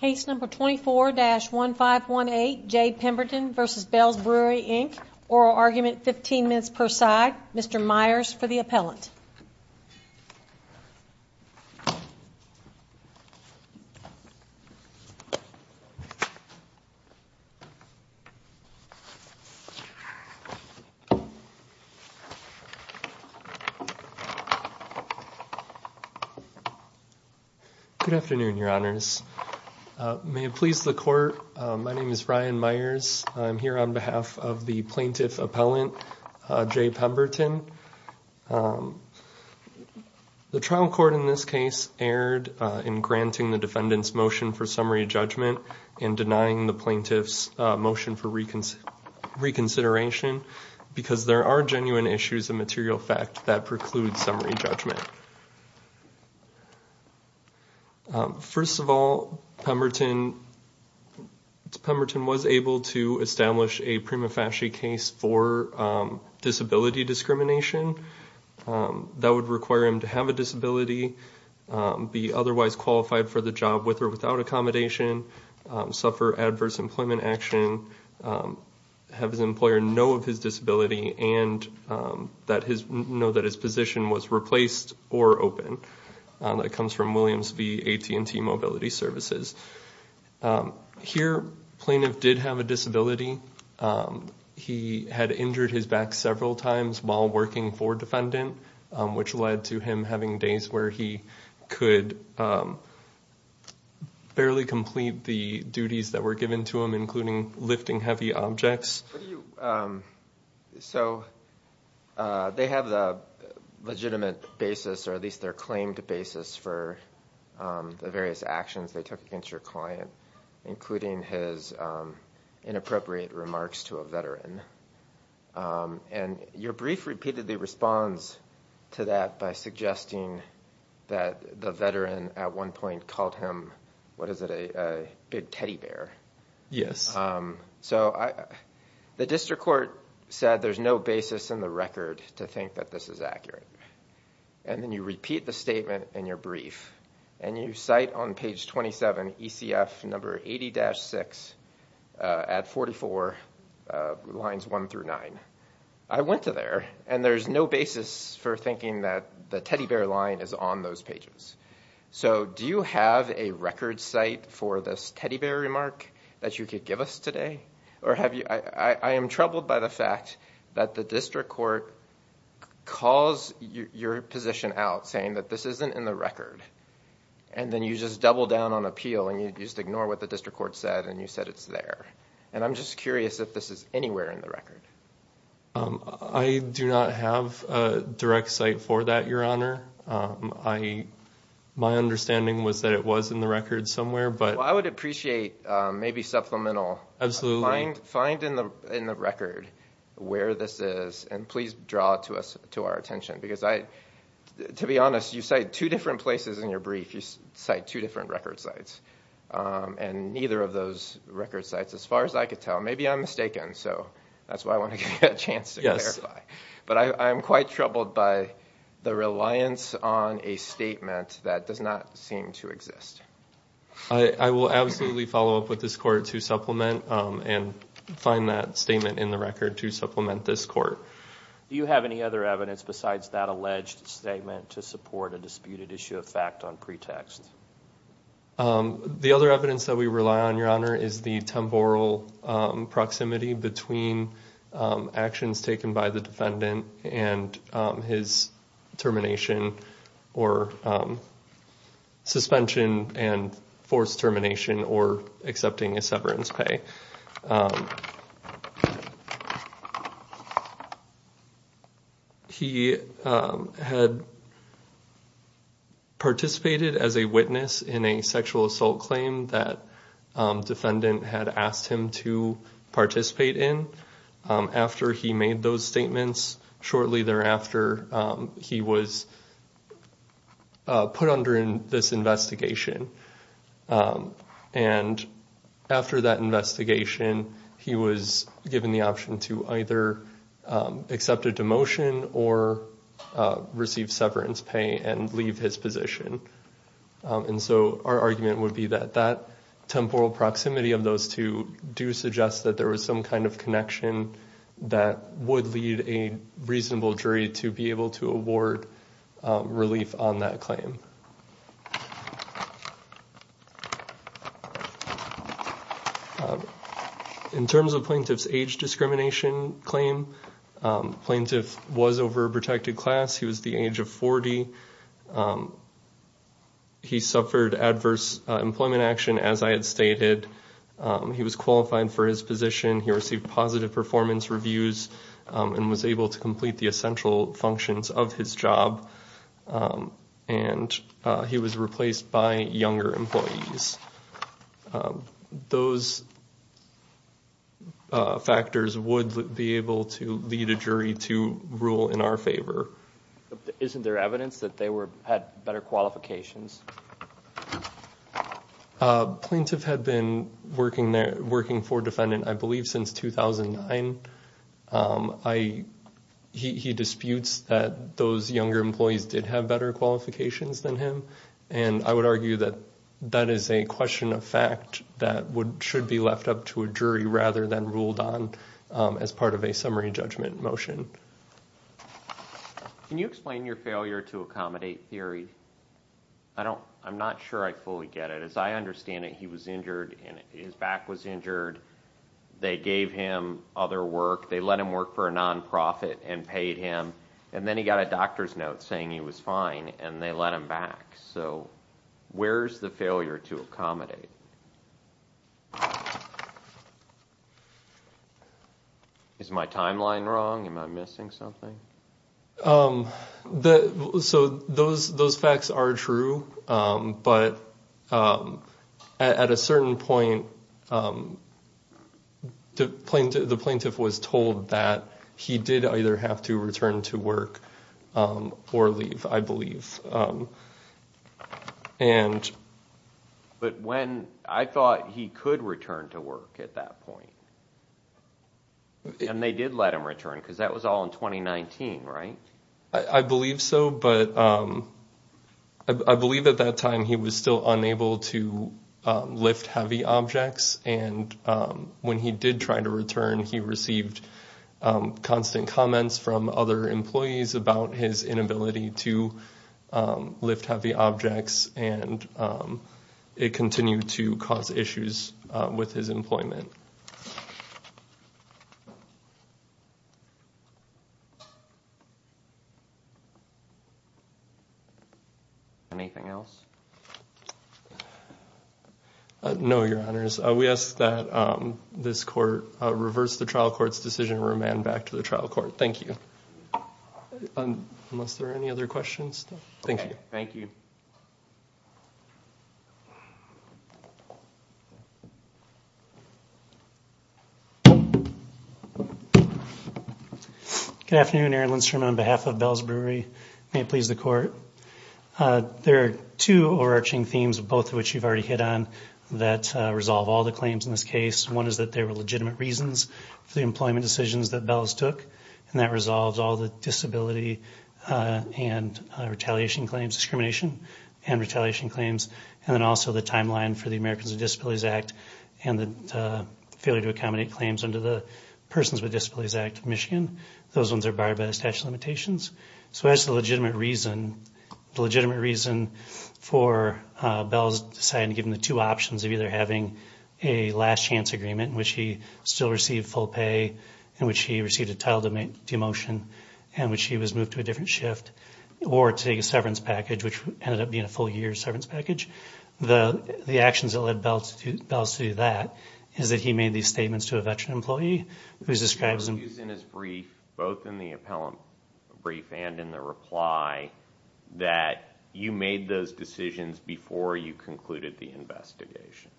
Case number 24-1518, Jade Pemberton v. Bells Brewery Inc. Oral argument, 15 minutes per side. Mr. Myers for the appellant. Good afternoon, your honors. May it please the court. My name is Ryan Myers. I'm here on behalf of the plaintiff appellant, Jay Pemberton. The trial court in this case erred in granting the defendant's motion for summary judgment and denying the plaintiff's motion for reconsideration because there are genuine issues of material fact that preclude summary judgment. First of all, Pemberton was able to establish a prima facie case for disability discrimination that would require him to have a disability, be otherwise qualified for the job with or without accommodation, suffer adverse employment action, have his employer know of his disability and know that his position was replaced or open. That comes from Williams v. AT&T Mobility Services. Here, plaintiff did have a disability. He had injured his back several times while working for defendant, which led to him having days where he could barely complete the duties that were given to him, including lifting heavy objects. So they have the legitimate basis, or at least their claimed basis for the various actions they took against your client, including his inappropriate remarks to a veteran. And your brief repeatedly responds to that by suggesting that the veteran at one point called him, what is it, a big teddy bear. Yes. So the district court said there's no basis in the record to think that this is accurate. And then you repeat the statement in your brief and you cite on page 27, ECF number 80-6 at 44, lines 1 through 9. I went to there and there's no basis for thinking that the teddy bear line is on those pages. So do you have a record site for this teddy bear remark that you could give us today? I am troubled by the fact that the district court calls your position out saying that this isn't in the record. And then you just double down on appeal and you just ignore what the district court said and you said it's there. And I'm just curious if this is anywhere in the record. I do not have a direct site for that, Your Honor. My understanding was that it was in the record somewhere. Well, I would appreciate maybe supplemental. Find in the record where this is and please draw it to our attention. Because to be honest, you cite two different places in your brief. You cite two different record sites. And neither of those record sites, as far as I could tell, maybe I'm mistaken. So that's why I want to give you a chance to clarify. But I'm quite troubled by the reliance on a statement that does not seem to exist. I will absolutely follow up with this court to supplement and find that statement in the record to supplement this court. Do you have any other evidence besides that alleged statement to support a disputed issue of fact on pretext? The other evidence that we rely on, Your Honor, is the temporal proximity between actions taken by the defendant and his termination or suspension and forced termination or accepting a severance pay. He had participated as a witness in a sexual assault claim that defendant had asked him to participate in. After he made those statements, shortly thereafter, he was put under this investigation. And after that investigation, he was given the option to either accept a demotion or receive severance pay and leave his position. And so our argument would be that that temporal proximity of those two do suggest that there was some kind of connection that would lead a reasonable jury to be able to award relief on that claim. In terms of plaintiff's age discrimination claim, plaintiff was over a protected class. He was the age of 40. He suffered adverse employment action, as I had stated. He was qualified for his position. He received positive performance reviews and was able to complete the essential functions of his job. And he was replaced by younger employees. Those factors would be able to lead a jury to rule in our favor. Isn't there evidence that they had better qualifications? Plaintiff had been working for defendant, I believe, since 2009. He disputes that those younger employees did have better qualifications than him. And I would argue that that is a question of fact that should be left up to a jury rather than ruled on as part of a summary judgment motion. Can you explain your failure to accommodate theory? I'm not sure I fully get it. As I understand it, he was injured and his back was injured. They gave him other work. They let him work for a nonprofit and paid him. And then he got a doctor's note saying he was fine and they let him back. So where's the failure to accommodate? Is my timeline wrong? Am I missing something? So those facts are true. But at a certain point, the plaintiff was told that he did either have to return to work or leave, I believe. But when I thought he could return to work at that point. And they did let him return because that was all in 2019, right? I believe so. But I believe at that time he was still unable to lift heavy objects. And when he did try to return, he received constant comments from other employees about his inability to lift heavy objects. And it continued to cause issues with his employment. Thank you. Anything else? No, Your Honors. We ask that this court reverse the trial court's decision and remand back to the trial court. Thank you. Unless there are any other questions. Thank you. Thank you. Good afternoon. Aaron Lindstrom on behalf of Bells Brewery. May it please the court. There are two overarching themes, both of which you've already hit on, that resolve all the claims in this case. One is that there were legitimate reasons for the employment decisions that Bells took. And that resolves all the disability and retaliation claims, discrimination and retaliation claims. And then also the timeline for the Americans with Disabilities Act and the failure to accommodate claims under the Persons with Disabilities Act of Michigan. Those ones are barred by the statute of limitations. So that's the legitimate reason. The legitimate reason for Bells deciding to give him the two options of either having a last chance agreement in which he still received full pay, in which he received a title demotion, in which he was moved to a different shift, or to take a severance package, which ended up being a full year's severance package. The actions that led Bells to do that is that he made these statements to a veteran employee, who describes him... He argues in his brief, both in the appellant brief and in the reply, that you made those decisions before you concluded the investigation.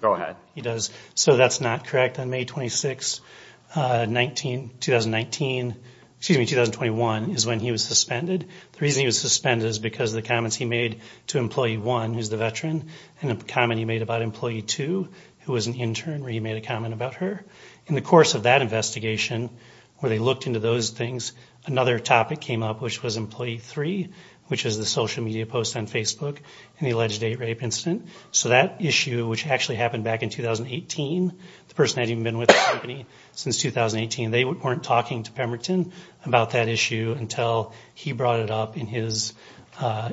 Go ahead. He does. So that's not correct. On May 26, 2019... Excuse me, 2021, is when he was suspended. The reason he was suspended is because of the comments he made to Employee 1, who's the veteran, and the comment he made about Employee 2, who was an intern, where he made a comment about her. In the course of that investigation, where they looked into those things, another topic came up, which was Employee 3, which is the social media post on Facebook in the alleged eight-rape incident. So that issue, which actually happened back in 2018, the person had even been with the company since 2018, they weren't talking to Pemberton about that issue until he brought it up in his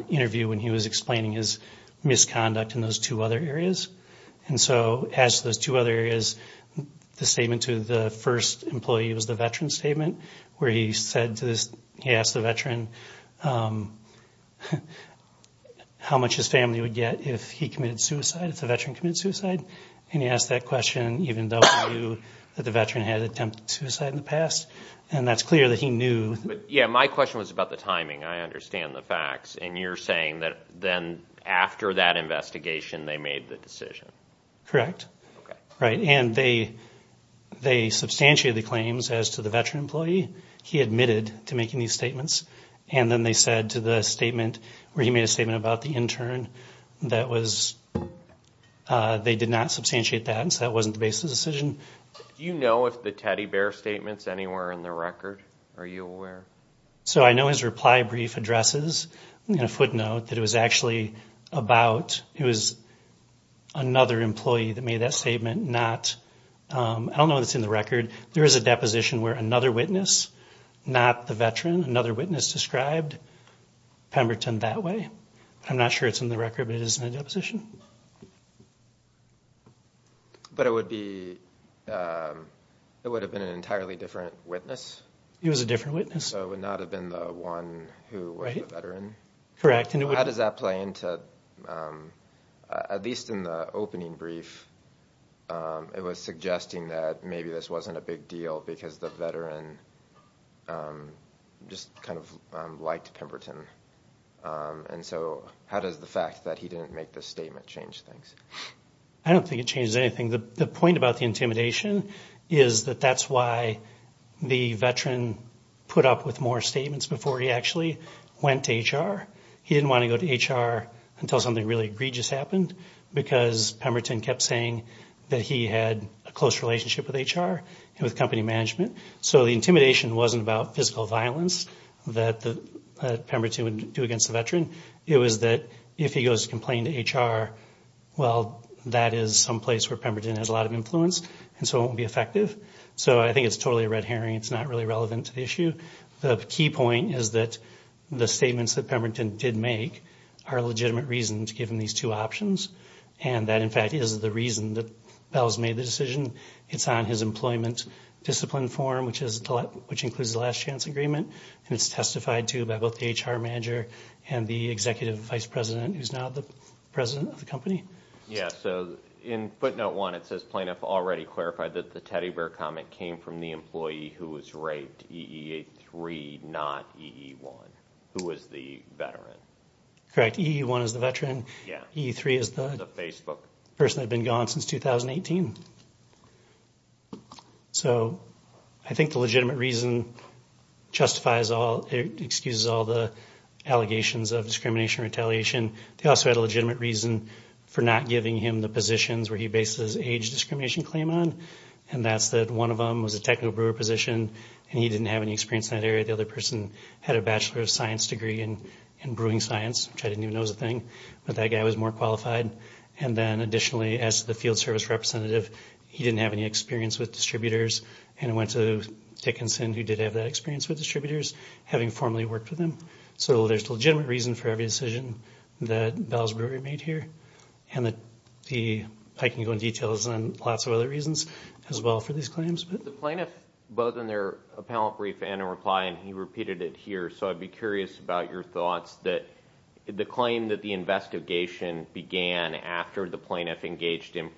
interview, when he was explaining his misconduct in those two other areas. And so, as to those two other areas, the statement to the first employee was the veteran's statement, where he asked the veteran how much his family would get if he committed suicide, if the veteran committed suicide. And he asked that question, even though he knew that the veteran had attempted suicide in the past. And that's clear that he knew... Yeah, my question was about the timing. I understand the facts. And you're saying that then, after that investigation, they made the decision? Correct. Okay. Right. And they substantiated the claims as to the veteran employee. He admitted to making these statements. And then they said to the statement, where he made a statement about the intern, that was... They did not substantiate that, and so that wasn't the basis of the decision. Do you know if the teddy bear statement's anywhere in the record? Are you aware? So I know his reply brief addresses, in a footnote, that it was actually about... It was another employee that made that statement, not... I don't know if it's in the record. There is a deposition where another witness, not the veteran, another witness described Pemberton that way. I'm not sure it's in the record, but it is in the deposition. But it would be... It would have been an entirely different witness? It was a different witness. So it would not have been the one who was the veteran? Correct. How does that play into, at least in the opening brief, it was suggesting that maybe this wasn't a big deal because the veteran just kind of liked Pemberton. And so how does the fact that he didn't make this statement change things? I don't think it changes anything. The point about the intimidation is that that's why the veteran put up with more statements before he actually went to HR. He didn't want to go to HR until something really egregious happened because Pemberton kept saying that he had a close relationship with HR and with company management. So the intimidation wasn't about physical violence that Pemberton would do against the veteran. It was that if he goes to complain to HR, well, that is someplace where Pemberton has a lot of influence, and so it won't be effective. So I think it's totally a red herring. It's not really relevant to the issue. The key point is that the statements that Pemberton did make are legitimate reasons given these two options, and that, in fact, is the reason that Bell's made the decision. It's on his employment discipline form, which includes the last chance agreement, and it's testified to by both the HR manager and the executive vice president, who's now the president of the company. Yeah, so in footnote one, it says, The plaintiff already clarified that the teddy bear comment came from the employee who was raped, EEA3, not EE1, who was the veteran. Correct. EE1 is the veteran. Yeah. EE3 is the person that had been gone since 2018. So I think the legitimate reason justifies all the allegations of discrimination and retaliation. They also had a legitimate reason for not giving him the positions where he bases his age discrimination claim on, and that's that one of them was a technical brewer position, and he didn't have any experience in that area. The other person had a bachelor of science degree in brewing science, which I didn't even know was a thing, but that guy was more qualified. And then, additionally, as the field service representative, he didn't have any experience with distributors, and it went to Dickinson, who did have that experience with distributors, having formally worked with him. So there's a legitimate reason for every decision that Bell's Brewery made here, and I can go into details on lots of other reasons as well for these claims. The plaintiff, both in their appellate brief and in reply, and he repeated it here, so I'd be curious about your thoughts that the claim that the investigation began after the plaintiff engaged in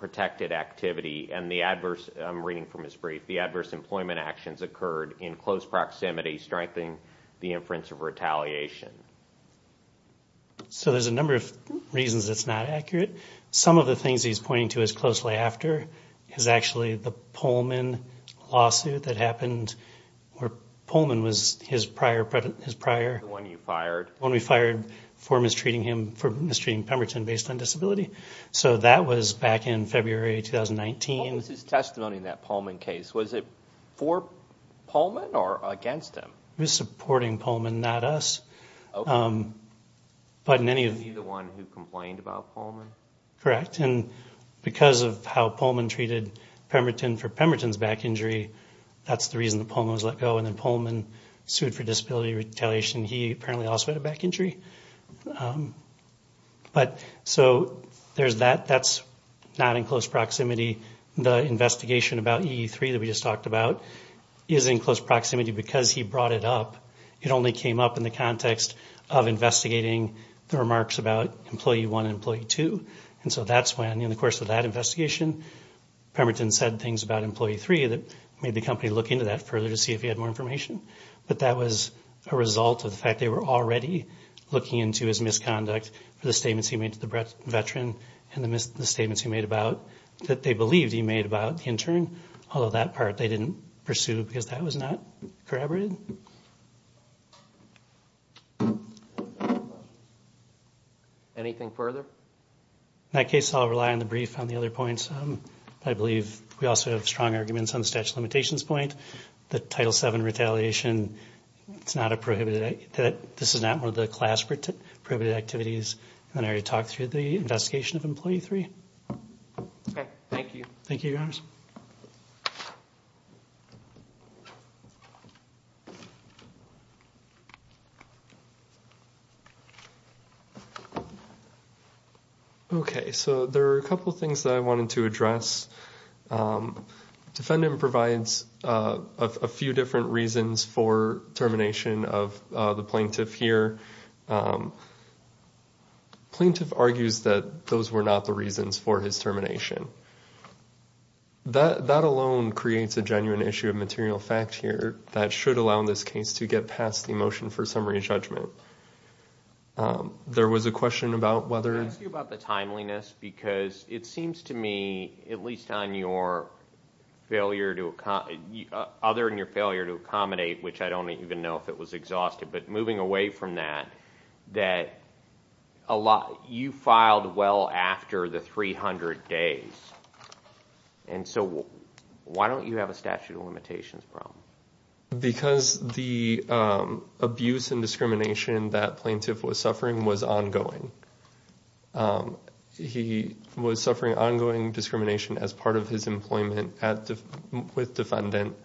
protected activity and the adverse, I'm reading from his brief, the adverse employment actions occurred in close proximity, strengthening the inference of retaliation. So there's a number of reasons it's not accurate. Some of the things he's pointing to as closely after is actually the Pullman lawsuit that happened, where Pullman was his prior... The one you fired. The one we fired for mistreating him, for mistreating Pemberton based on disability. So that was back in February 2019. What was his testimony in that Pullman case? Was it for Pullman or against him? He was supporting Pullman, not us. But in any of... He's the one who complained about Pullman? Correct, and because of how Pullman treated Pemberton for Pemberton's back injury, that's the reason that Pullman was let go, and then Pullman sued for disability retaliation. He apparently also had a back injury. But so there's that. That's not in close proximity. The investigation about EE3 that we just talked about is in close proximity because he brought it up. It only came up in the context of investigating the remarks about Employee 1 and Employee 2. And so that's when, in the course of that investigation, Pemberton said things about Employee 3 that made the company look into that further to see if he had more information. But that was a result of the fact they were already looking into his misconduct for the statements he made to the veteran and the statements he made about... that they believed he made about the intern, although that part they didn't pursue because that was not corroborated. Anything further? In that case, I'll rely on the brief on the other points. I believe we also have strong arguments on the statute of limitations point, the Title VII retaliation. It's not a prohibited... This is not one of the class-prohibited activities. And I already talked through the investigation of Employee 3. Okay. Thank you. Thank you, Your Honors. Okay, so there are a couple of things that I wanted to address. Defendant provides a few different reasons for termination of the plaintiff here. Plaintiff argues that those were not the reasons for his termination. That alone creates a genuine issue of material fact here that should allow this case to get past the motion for summary judgment. There was a question about whether... I asked you about the timeliness because it seems to me, at least on your failure to... other than your failure to accommodate, which I don't even know if it was exhausted, but moving away from that, that you filed well after the 300 days. And so why don't you have a statute of limitations problem? Because the abuse and discrimination that plaintiff was suffering was ongoing. He was suffering ongoing discrimination as part of his employment with defendant.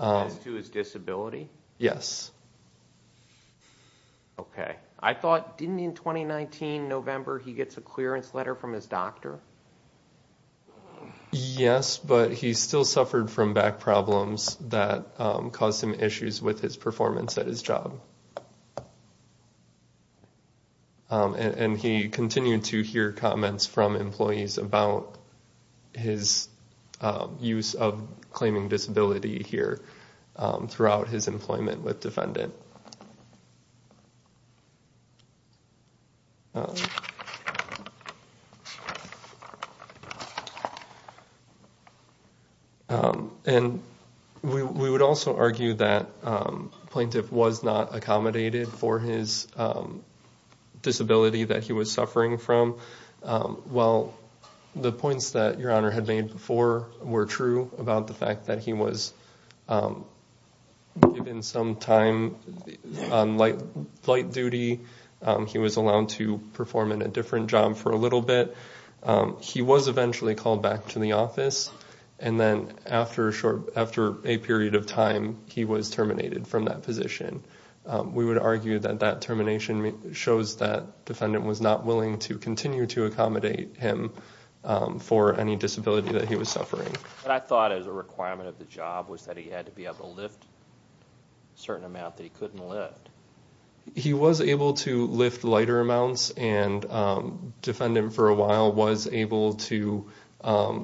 As to his disability? Yes. Okay. I thought, didn't in 2019, November, he gets a clearance letter from his doctor? Yes, but he still suffered from back problems that caused him issues with his performance at his job. And he continued to hear comments from employees about his use of claiming disability here throughout his employment with defendant. And we would also argue that plaintiff was not accommodated for his disability that he was suffering from. Well, the points that your honor had made before were true about the fact that he was given some time on light duty. He was allowed to perform in a different job for a little bit. He was eventually called back to the office. And then after a short, after a period of time, he was terminated from that position. We would argue that that termination shows that defendant was not willing to continue to accommodate him for any disability that he was suffering. But I thought as a requirement of the job was that he had to be able to lift certain amount that he couldn't lift. He was able to lift lighter amounts and defendant for a while was able to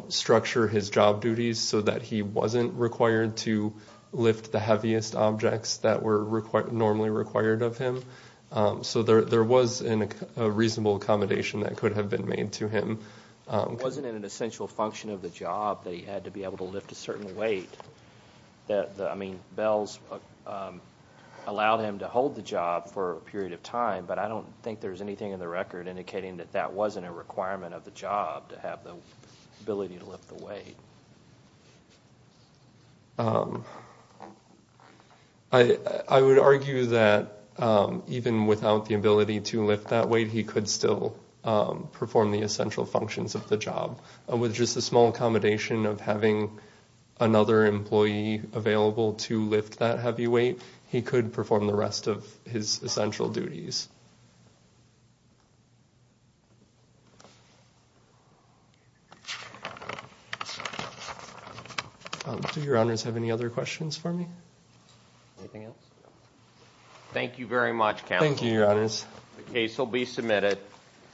structure his job duties so that he wasn't required to lift the heaviest objects that were normally required of him. So there was a reasonable accommodation that could have been made to him. It wasn't an essential function of the job that he had to be able to lift a certain weight. I mean, bells allowed him to hold the job for a period of time, but I don't think there's anything in the record indicating that that wasn't a requirement of the job to have the ability to lift the weight. I would argue that even without the ability to lift that weight, he could still perform the essential functions of the job. With just a small accommodation of having another employee available to lift that heavy weight, he could perform the rest of his essential duties. Do your honors have any other questions for me? Anything else? Thank you very much, counsel. Thank you, your honors. The case will be submitted.